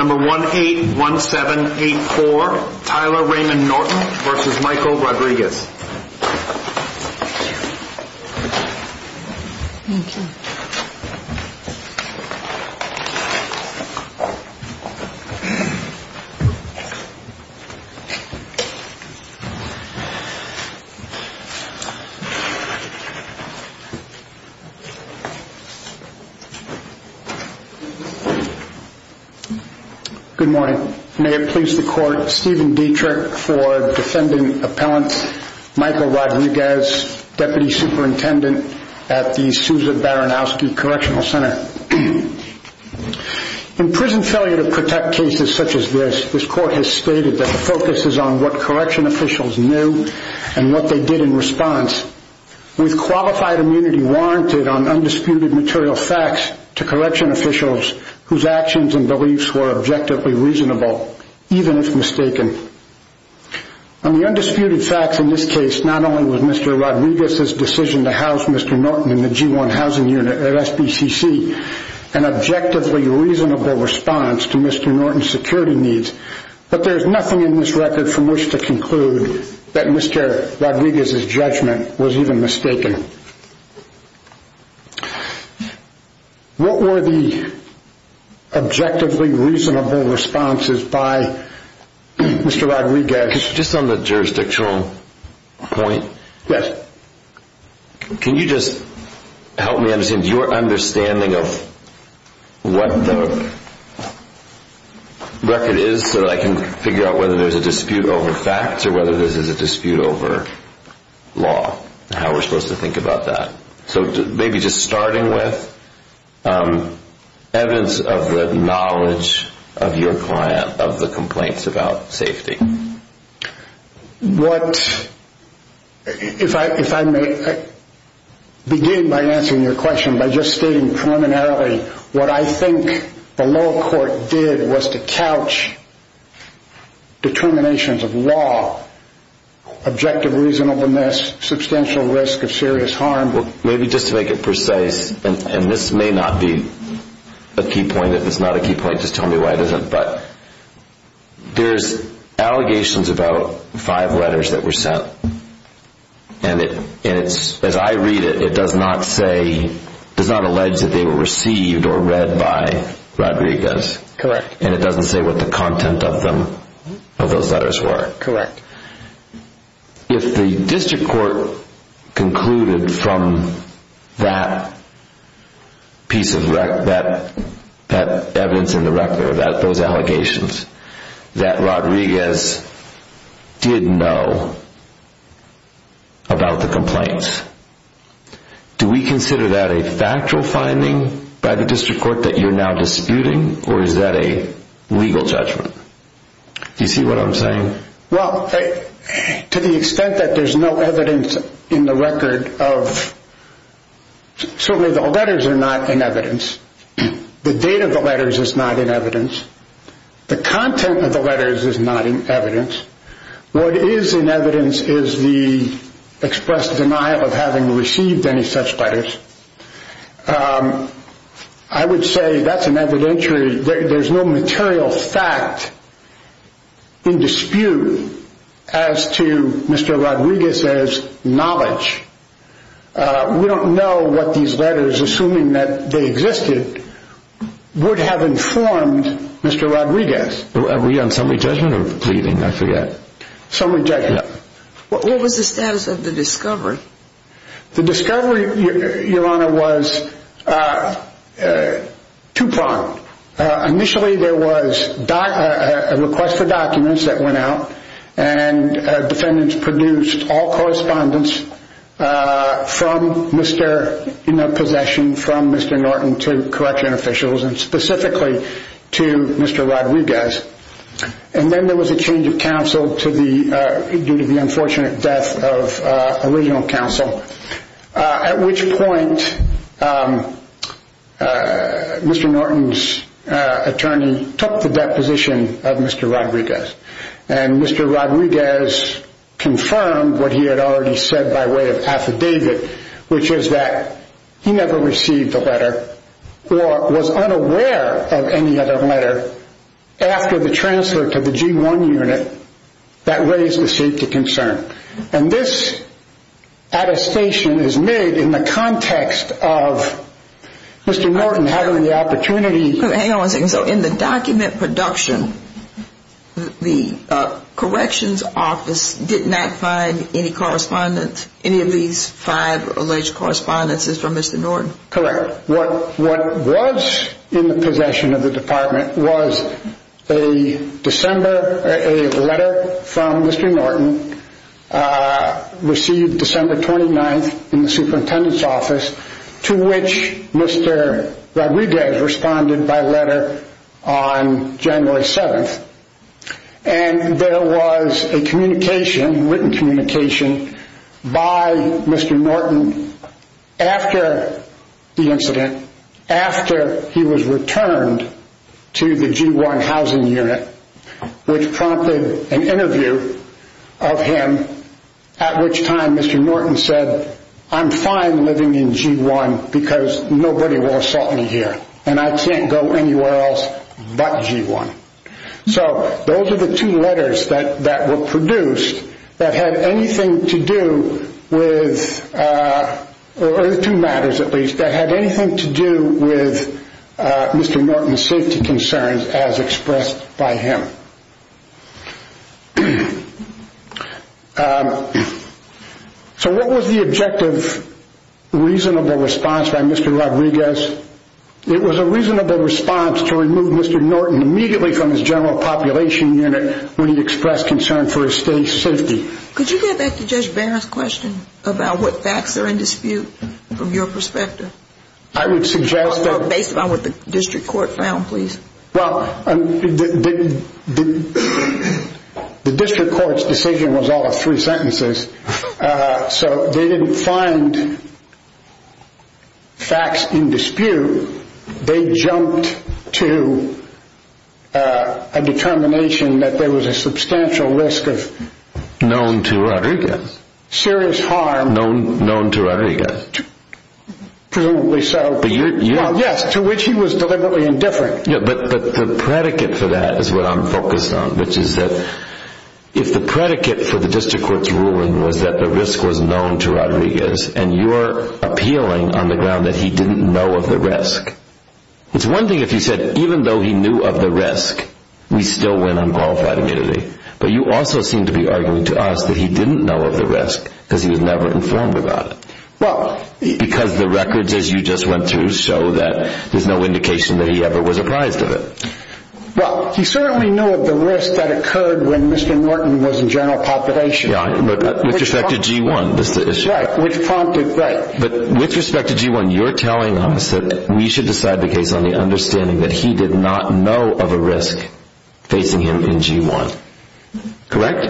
181784 Tyler Raymond Norton v. Michael Rodrigues Good morning. May it please the Court, Stephen Dietrich for Defending Appellant Michael Rodrigues, Deputy Superintendent at the Susan Baranowski Correctional Center. In prison failure to protect cases such as this, this Court has stated that the focus is on what correction officials knew and what they did in response. With qualified immunity warranted on undisputed material facts to correction officials whose actions and beliefs were objectively reasonable, even if mistaken. On the undisputed facts in this case, not only was Mr. Rodrigues' decision to house Mr. Norton in the G1 Housing Unit at SBCC an objectively reasonable response to Mr. Norton's security needs, but there's nothing in this record from which to conclude that Mr. Rodrigues' judgment was even mistaken. What were the objectively reasonable responses by Mr. Rodrigues? Just on the jurisdictional point, can you just help me understand your understanding of what the record is so that I can figure out whether there's a dispute over facts or whether there's a dispute over law and how we're supposed to think about that. So maybe just starting with evidence of the knowledge of your client of the complaints about safety. If I may begin by answering your question by just stating preliminarily what I think the lower court did was to couch determinations of law, objective reasonableness, substantial risk of serious harm. Maybe just to make it precise, and this may not be a key point, if it's not a key point just tell me why it isn't, but there's allegations about five letters that were sent. And as I read it, it does not say, does not allege that they were received or read by Rodrigues. Correct. And it doesn't say what the content of those letters were. Correct. If the district court concluded from that piece of evidence in the record, those allegations, that Rodrigues did know about the complaints, do we consider that a factual finding by the district court that you're now disputing or is that a legal judgment? Do you see what I'm saying? Well, to the extent that there's no evidence in the record of, certainly the letters are not in evidence. The date of the letters is not in evidence. The content of the letters is not in evidence. What is in evidence is the expressed denial of having received any such letters. I would say that's an evidentiary, there's no material fact in dispute as to Mr. Rodrigues' knowledge. We don't know what these letters, assuming that they existed, would have informed Mr. Rodrigues. Were we on summary judgment or pleading? I forget. Summary judgment. What was the status of the discovery? The discovery, Your Honor, was two-pronged. Initially, there was a request for documents that went out and defendants produced all correspondence from Mr. Possession, from Mr. Norton to correction officials and specifically to Mr. Rodrigues. Then there was a change of counsel due to the unfortunate death of original counsel, at which point Mr. Norton's attorney took the deposition of Mr. Rodrigues. And Mr. Rodrigues confirmed what he had already said by way of affidavit, which is that he never received a letter or was unaware of any other letter after the transfer to the G1 unit that raised the safety concern. And this attestation is made in the context of Mr. Norton having the opportunity So in the document production, the corrections office did not find any correspondence, any of these five alleged correspondences from Mr. Norton? Correct. What was in the possession of the department was a letter from Mr. Norton, received December 29th in the superintendent's office, to which Mr. Rodrigues responded by letter on January 7th. And there was a written communication by Mr. Norton after the incident, after he was returned to the G1 housing unit, which prompted an interview of him, at which time Mr. Norton said, I'm fine living in G1 because nobody will assault me here and I can't go anywhere else but G1. So those are the two letters that were produced that had anything to do with Mr. Norton's safety concerns as expressed by him. So what was the objective, reasonable response by Mr. Rodrigues? It was a reasonable response to remove Mr. Norton immediately from his general population unit when he expressed concern for his state's safety. Could you get back to Judge Barron's question about what facts are in dispute from your perspective? I would suggest that... Based on what the district court found, please. Well, the district court's decision was all of three sentences, so they didn't find facts in dispute. They jumped to a determination that there was a substantial risk of... Known to Rodrigues. Serious harm... Known to Rodrigues. Presumably so. Yes, to which he was deliberately indifferent. But the predicate for that is what I'm focused on, which is that if the predicate for the district court's ruling was that the risk was known to Rodrigues, and you're appealing on the ground that he didn't know of the risk, it's one thing if he said even though he knew of the risk, we still win unqualified immunity. But you also seem to be arguing to us that he didn't know of the risk because he was never informed about it. Because the records, as you just went through, show that there's no indication that he ever was apprised of it. Well, he certainly knew of the risk that occurred when Mr. Norton was in general population. Yeah, but with respect to G1, that's the issue. Right, which prompted... Right. But with respect to G1, you're telling us that we should decide the case on the understanding that he did not know of a risk facing him in G1. Correct?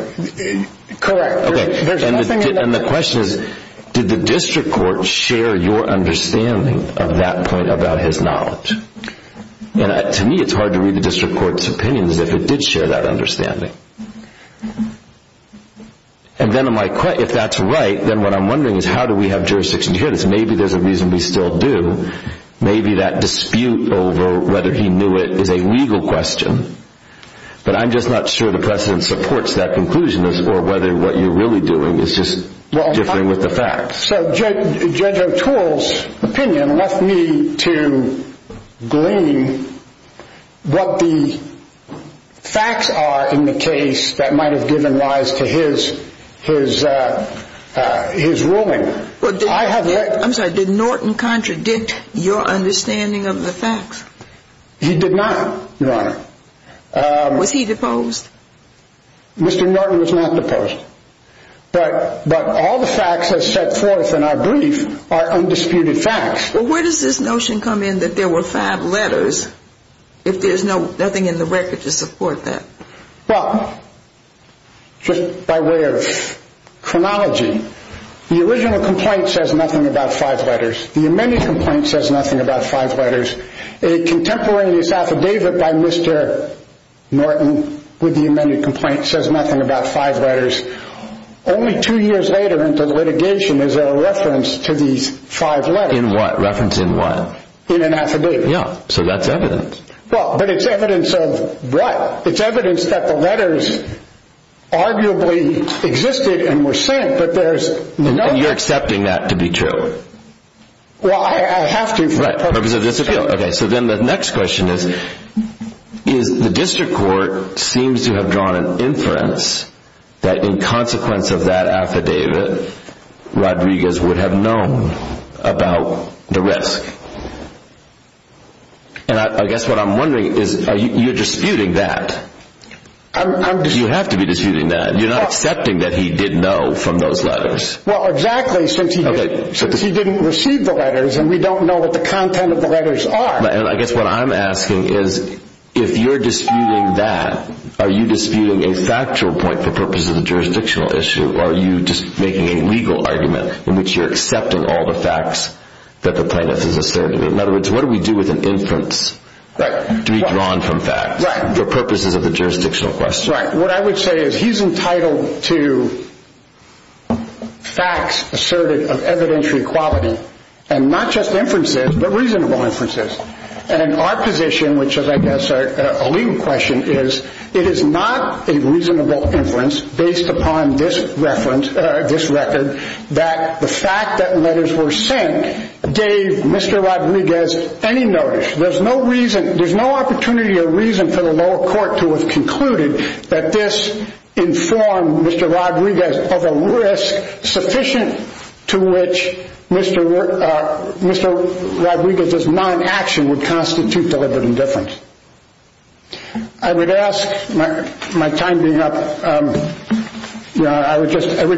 Correct. And the question is, did the district court share your understanding of that point about his knowledge? To me, it's hard to read the district court's opinion as if it did share that understanding. And then if that's right, then what I'm wondering is how do we have jurisdiction here? Maybe there's a reason we still do. Maybe that dispute over whether he knew it is a legal question. But I'm just not sure the precedent supports that conclusion or whether what you're really doing is just differing with the facts. So Judge O'Toole's opinion left me to glean what the facts are in the case that might have given rise to his ruling. I'm sorry, did Norton contradict your understanding of the facts? He did not, Your Honor. Was he deposed? Mr. Norton was not deposed. But all the facts as set forth in our brief are undisputed facts. Well, where does this notion come in that there were five letters if there's nothing in the record to support that? Well, just by way of chronology, the original complaint says nothing about five letters. The amended complaint says nothing about five letters. A contemporaneous affidavit by Mr. Norton with the amended complaint says nothing about five letters. Only two years later into the litigation is there a reference to these five letters. In what? Reference in what? In an affidavit. Yeah, so that's evidence. Well, but it's evidence of what? It's evidence that the letters arguably existed and were sent, but there's no evidence. And you're accepting that to be true? Well, I have to. Right, for the purpose of this appeal. Okay, so then the next question is, is the district court seems to have drawn an inference that in consequence of that affidavit, Rodriguez would have known about the risk? And I guess what I'm wondering is, you're disputing that. I'm disputing... You have to be disputing that. You're not accepting that he did know from those letters. Well, exactly, since he didn't receive the letters and we don't know what the content of the letters are. And I guess what I'm asking is, if you're disputing that, are you disputing a factual point for purposes of the jurisdictional issue, or are you just making a legal argument in which you're accepting all the facts that the plaintiff has asserted? In other words, what do we do with an inference to be drawn from facts for purposes of the jurisdictional question? That's right. What I would say is he's entitled to facts asserted of evidentiary quality, and not just inferences, but reasonable inferences. And in our position, which is, I guess, a legal question, is it is not a reasonable inference based upon this reference, this record, that the fact that letters were sent gave Mr. Rodriguez any notice. There's no reason, there's no opportunity or reason for the lower court to have concluded that this informed Mr. Rodriguez of a risk sufficient to which Mr. Rodriguez's non-action would constitute deliberate indifference. I would ask, my time being up, I would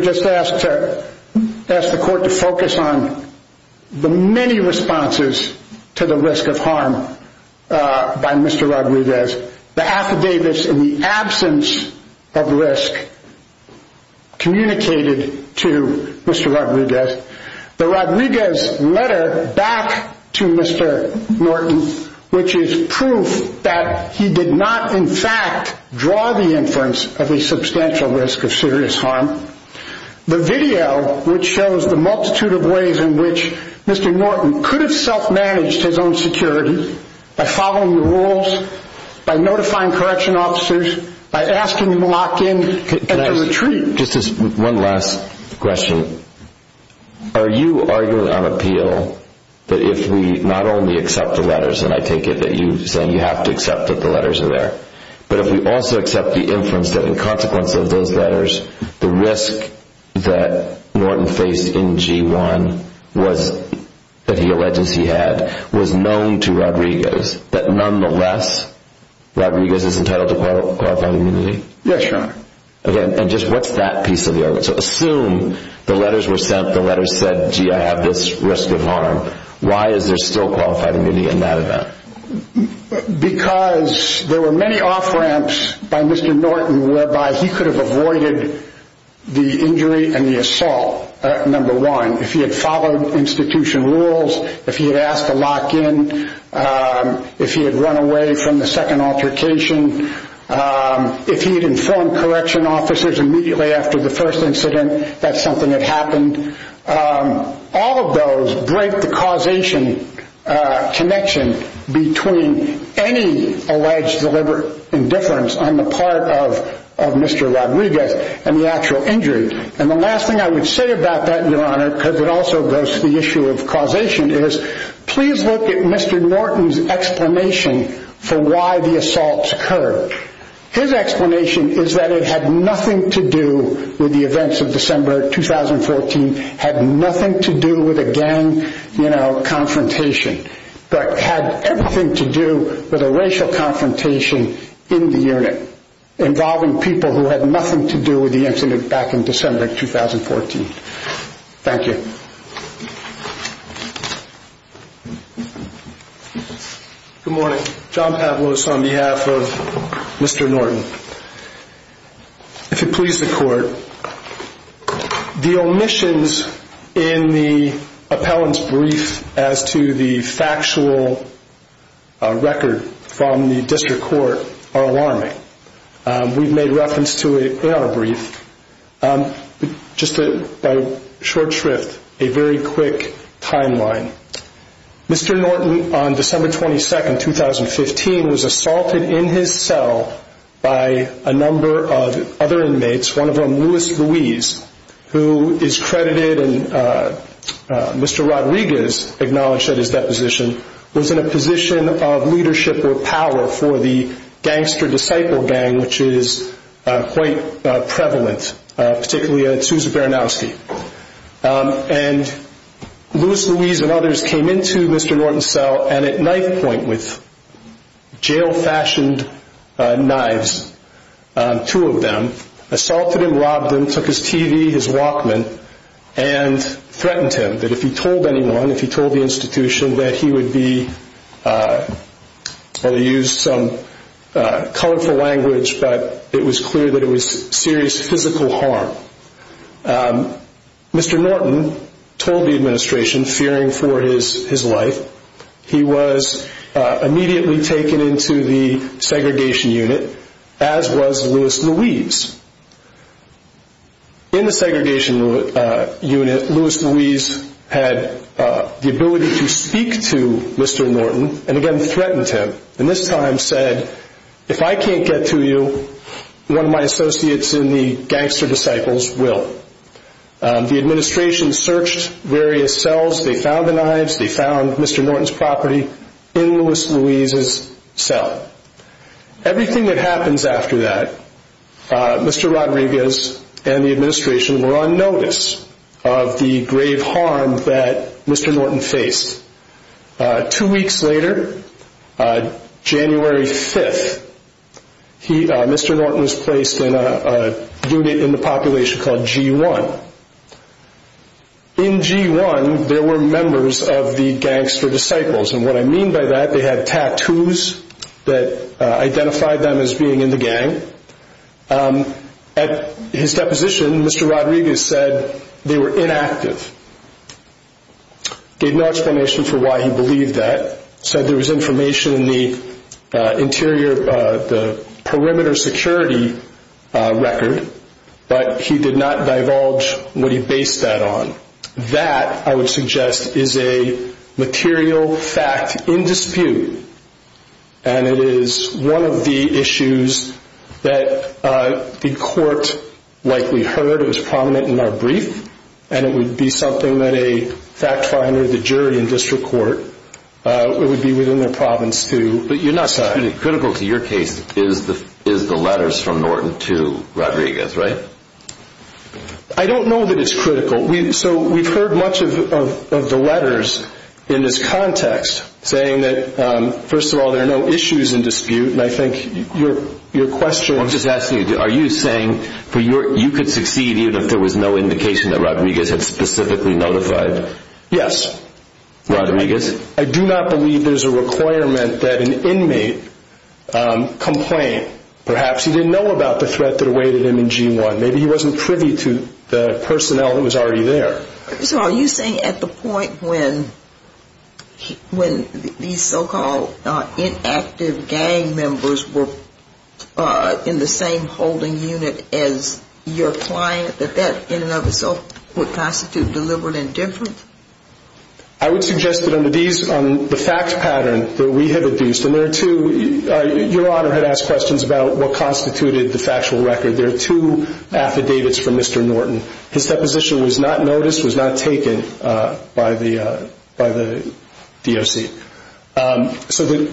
just ask the court to focus on the many responses to the risk of harm by Mr. Rodriguez. The affidavits in the absence of risk communicated to Mr. Rodriguez. The Rodriguez letter back to Mr. Norton, which is proof that he did not, in fact, draw the inference of a substantial risk of serious harm. The video, which shows the multitude of ways in which Mr. Norton could have self-managed his own security by following the rules, by notifying correction officers, by asking him to lock in at the retreat. One last question. Are you arguing on appeal that if we not only accept the letters, and I take it that you're saying you have to accept that the letters are there, but if we also accept the inference that in consequence of those letters, the risk that Norton faced in G1, that he alleges he had, was known to Rodriguez, that nonetheless, Rodriguez is entitled to qualified immunity? Yes, Your Honor. Again, and just what's that piece of the argument? So assume the letters were sent, the letters said, gee, I have this risk of harm. Why is there still qualified immunity in that event? Because there were many off-ramps by Mr. Norton whereby he could have avoided the injury and the assault, number one. If he had followed institution rules, if he had asked to lock in, if he had run away from the second altercation, if he had informed correction officers immediately after the first incident that something had happened, all of those break the causation connection between any alleged deliberate indifference on the part of Mr. Rodriguez and the actual injury. And the last thing I would say about that, Your Honor, because it also goes to the issue of causation, is please look at Mr. Norton's explanation for why the assaults occurred. His explanation is that it had nothing to do with the events of December 2014, had nothing to do with a gang, you know, confrontation, but had everything to do with a racial confrontation in the unit involving people who had nothing to do with the incident back in December 2014. Thank you. Good morning. John Pavlos on behalf of Mr. Norton. If it pleases the court, the omissions in the appellant's brief as to the factual record from the district court are alarming. We've made reference to it in our brief. Just a short shrift, a very quick timeline. Mr. Norton, on December 22nd, 2015, was assaulted in his cell by a number of other inmates, one of whom, Louis Louise, who is credited and Mr. Rodriguez acknowledged that his deposition was in a position of leadership or power for the Gangster Disciple Gang, which is quite prevalent, particularly at Sousa Baranowski. And Louis Louise and others came into Mr. Norton's cell and at knife point with jail-fashioned knives, two of them, assaulted and robbed him, took his TV, his Walkman, and threatened him that if he told anyone, if he told the institution, that he would be, well, he used some colorful language, but it was clear that it was serious physical harm. Mr. Norton told the administration, fearing for his life, he was immediately taken into the segregation unit, as was Louis Louise. In the segregation unit, Louis Louise had the ability to speak to Mr. Norton and again threatened him and this time said, if I can't get to you, one of my associates in the Gangster Disciples will. The administration searched various cells, they found the knives, they found Mr. Norton's property in Louis Louise's cell. Everything that happens after that, Mr. Rodriguez and the administration were on notice of the grave harm that Mr. Norton faced. Two weeks later, January 5th, Mr. Norton was placed in a unit in the population called G1. In G1, there were members of the Gangster Disciples, and what I mean by that, they had tattoos that identified them as being in the gang. At his deposition, Mr. Rodriguez said they were inactive. Gave no explanation for why he believed that. Said there was information in the perimeter security record, but he did not divulge what he based that on. That, I would suggest, is a material fact in dispute, and it is one of the issues that the court likely heard, it was prominent in our brief, and it would be something that a fact finder, the jury in district court, it would be within their province to decide. But critical to your case is the letters from Norton to Rodriguez, right? I don't know that it's critical. So we've heard much of the letters in this context saying that, first of all, there are no issues in dispute, and I think your question... I'm just asking you, are you saying you could succeed even if there was no indication that Rodriguez had specifically notified Rodriguez? Yes. I do not believe there's a requirement that an inmate complain. Perhaps he didn't know about the threat that awaited him in G1. Maybe he wasn't privy to the personnel that was already there. So are you saying at the point when these so-called inactive gang members were in the same holding unit as your client, that that in and of itself would constitute deliberate indifference? I would suggest that on the fact pattern that we have adduced, and there are two... Your Honor had asked questions about what constituted the factual record. There are two affidavits from Mr. Norton. His deposition was not noticed, was not taken by the DOC. So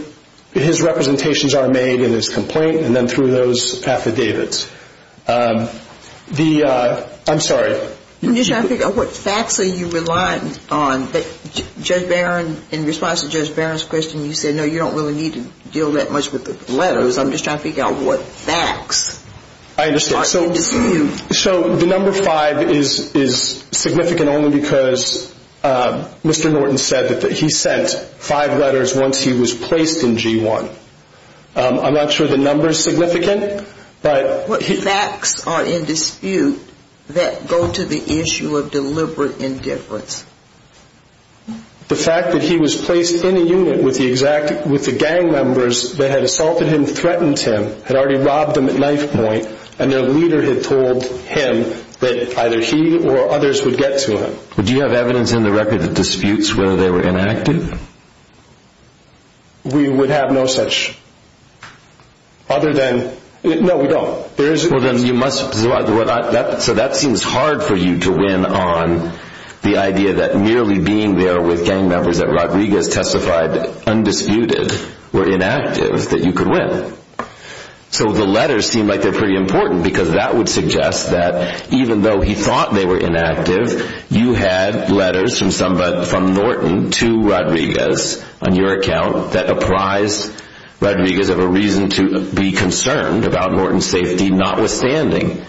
his representations are made in his complaint and then through those affidavits. I'm sorry. I'm just trying to figure out what facts are you relying on? Judge Barron, in response to Judge Barron's question, you said no, you don't really need to deal that much with the letters. I'm just trying to figure out what facts are in dispute. I understand. So the number five is significant only because Mr. Norton said that he sent five letters once he was placed in G1. I'm not sure the number is significant, but... ...to the issue of deliberate indifference. The fact that he was placed in a unit with the gang members that had assaulted him, threatened him, had already robbed him at knife point, and their leader had told him that either he or others would get to him. Do you have evidence in the record that disputes whether they were inactive? We would have no such other than... No, we don't. So that seems hard for you to win on the idea that merely being there with gang members that Rodriguez testified undisputed were inactive, that you could win. So the letters seem like they're pretty important because that would suggest that even though he thought they were inactive, you had letters from Norton to Rodriguez on your account that apprise Rodriguez of a reason to be concerned about Norton's safety, notwithstanding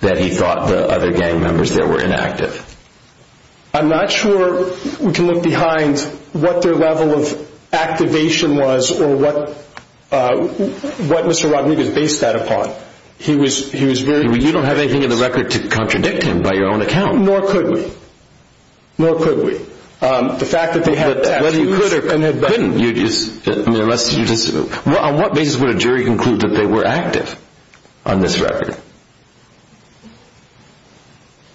that he thought the other gang members there were inactive. I'm not sure we can look behind what their level of activation was or what Mr. Rodriguez based that upon. You don't have anything in the record to contradict him by your own account. Nor could we. Nor could we. The fact that they had tattoos... Whether you could or couldn't... On what basis would a jury conclude that they were active on this record?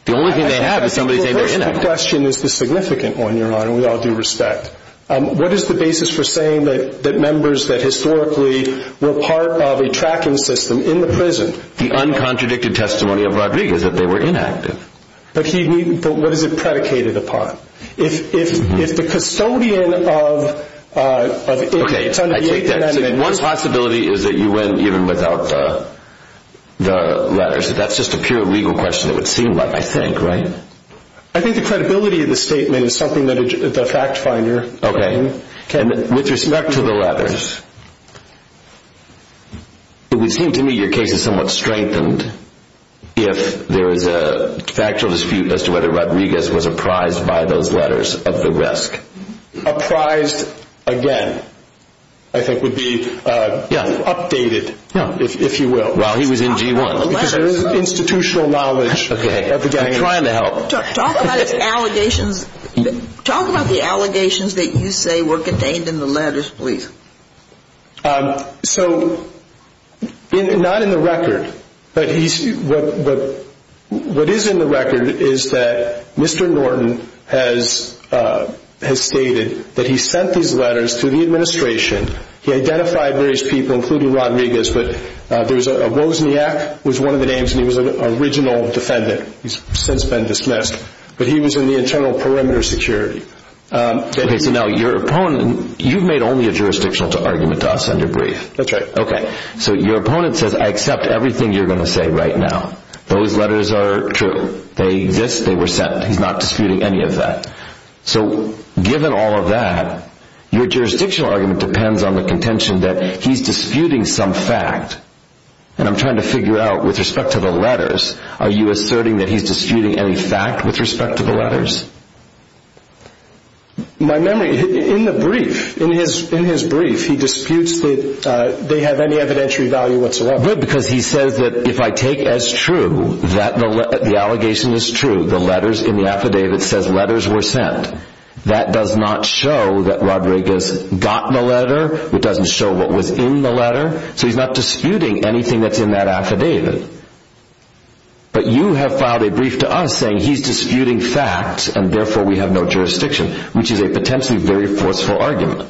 The only thing they have is somebody saying they're inactive. The question is the significant one, Your Honor, and we all do respect. What is the basis for saying that members that historically were part of a tracking system in the prison... The uncontradicted testimony of Rodriguez, that they were inactive. But what is it predicated upon? If the custodian of... Okay, I take that. One possibility is that you went even without the letters. That's just a pure legal question, it would seem like, I think, right? I think the credibility of the statement is something that the fact finder... Okay. With respect to the letters, it would seem to me your case is somewhat strengthened if there is a factual dispute as to whether Rodriguez was apprised by those letters of the risk. Apprised, again, I think would be updated, if you will. While he was in G1. Because there is institutional knowledge. I'm trying to help. Talk about the allegations that you say were contained in the letters, please. So, not in the record, but what is in the record is that Mr. Norton has stated that he sent these letters to the administration. He identified various people, including Rodriguez, but there was a... Wozniak was one of the names, and he was an original defendant. He's since been dismissed. But he was in the internal perimeter security. Okay, so now your opponent... You've made only a jurisdictional argument to us under brief. That's right. Okay. So your opponent says, I accept everything you're going to say right now. Those letters are true. They exist, they were sent. He's not disputing any of that. So, given all of that, your jurisdictional argument depends on the contention that he's disputing some fact. And I'm trying to figure out, with respect to the letters, are you asserting that he's disputing any fact with respect to the letters? My memory... In the brief, in his brief, he disputes that they have any evidentiary value whatsoever. Good, because he says that if I take as true that the allegation is true, the letters in the affidavit says letters were sent. That does not show that Rodriguez got the letter. It doesn't show what was in the letter. So he's not disputing anything that's in that affidavit. But you have filed a brief to us saying he's disputing facts, and therefore we have no jurisdiction, which is a potentially very forceful argument.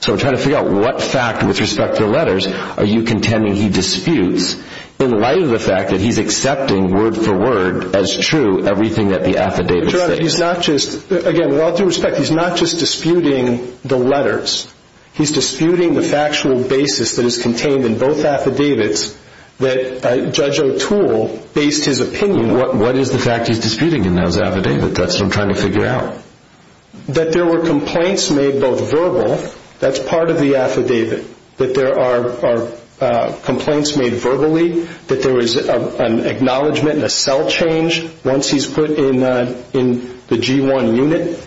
So I'm trying to figure out what fact, with respect to the letters, are you contending he disputes, in light of the fact that he's accepting, word for word, as true, everything that the affidavit states. Again, with all due respect, he's not just disputing the letters. He's disputing the factual basis that is contained in both affidavits that Judge O'Toole based his opinion on. What is the fact he's disputing in those affidavits? That's what I'm trying to figure out. That there were complaints made, both verbal, that's part of the affidavit, that there are complaints made verbally, that there was an acknowledgement and a cell change once he's put in the G1 unit.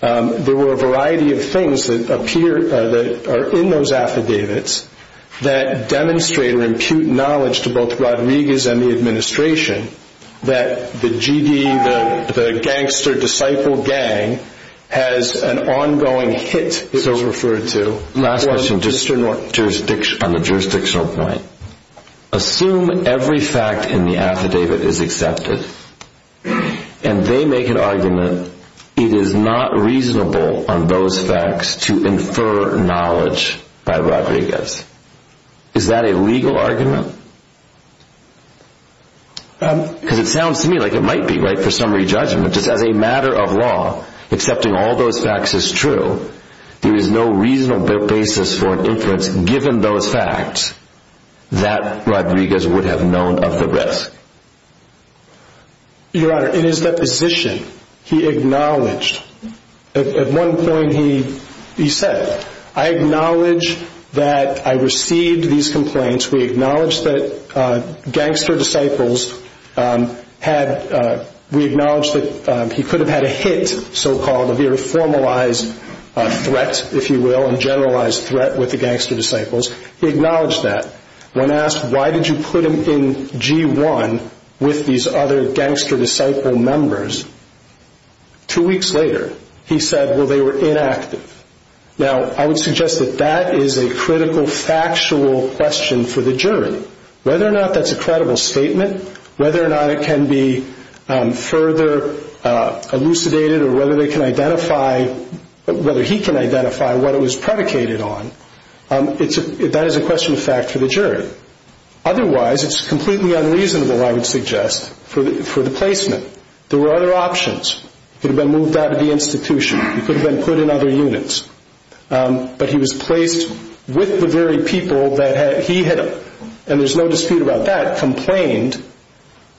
There were a variety of things that appear, that are in those affidavits, that demonstrate or impute knowledge to both Rodriguez and the administration, that the GD, the Gangster Disciple Gang, has an ongoing hit, it was referred to. Last question, on the jurisdictional point. Assume every fact in the affidavit is accepted, and they make an argument, it is not reasonable on those facts to infer knowledge by Rodriguez. Is that a legal argument? Because it sounds to me like it might be, right, for summary judgment. Just as a matter of law, accepting all those facts is true, there is no reasonable basis for inference, given those facts, that Rodriguez would have known of the risk. Your Honor, in his deposition, he acknowledged, at one point he said, I acknowledge that I received these complaints, we acknowledge that Gangster Disciples had, we acknowledge that he could have had a hit, so-called, a very formalized threat, if you will, a generalized threat with the Gangster Disciples, he acknowledged that. When asked, why did you put him in G1 with these other Gangster Disciple members, two weeks later, he said, well, they were inactive. Now, I would suggest that that is a critical, factual question for the jury. Whether or not that's a credible statement, whether or not it can be further elucidated, or whether they can identify, whether he can identify what it was predicated on, that is a question of fact for the jury. Otherwise, it's completely unreasonable, I would suggest, for the placement. There were other options. He could have been moved out of the institution. He could have been put in other units. But he was placed with the very people that he had, and there's no dispute about that, complained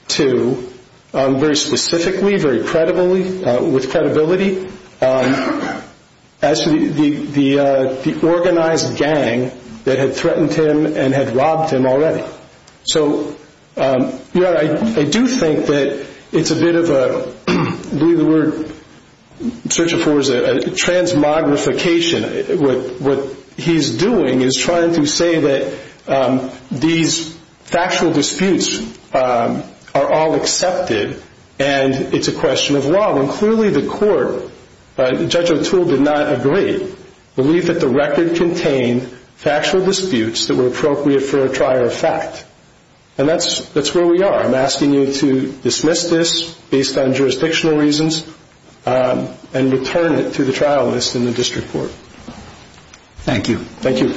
to very specifically, very credibly, with credibility, as to the organized gang that had threatened him and had robbed him already. So, yeah, I do think that it's a bit of a, believe the word, search of words, a transmogrification. What he's doing is trying to say that these factual disputes are all accepted, and it's a question of law. When clearly the court, Judge O'Toole did not agree, believe that the record contained factual disputes that were appropriate for a trial of fact. And that's where we are. I'm asking you to dismiss this based on jurisdictional reasons and return it to the trial list in the district court. Thank you. Thank you.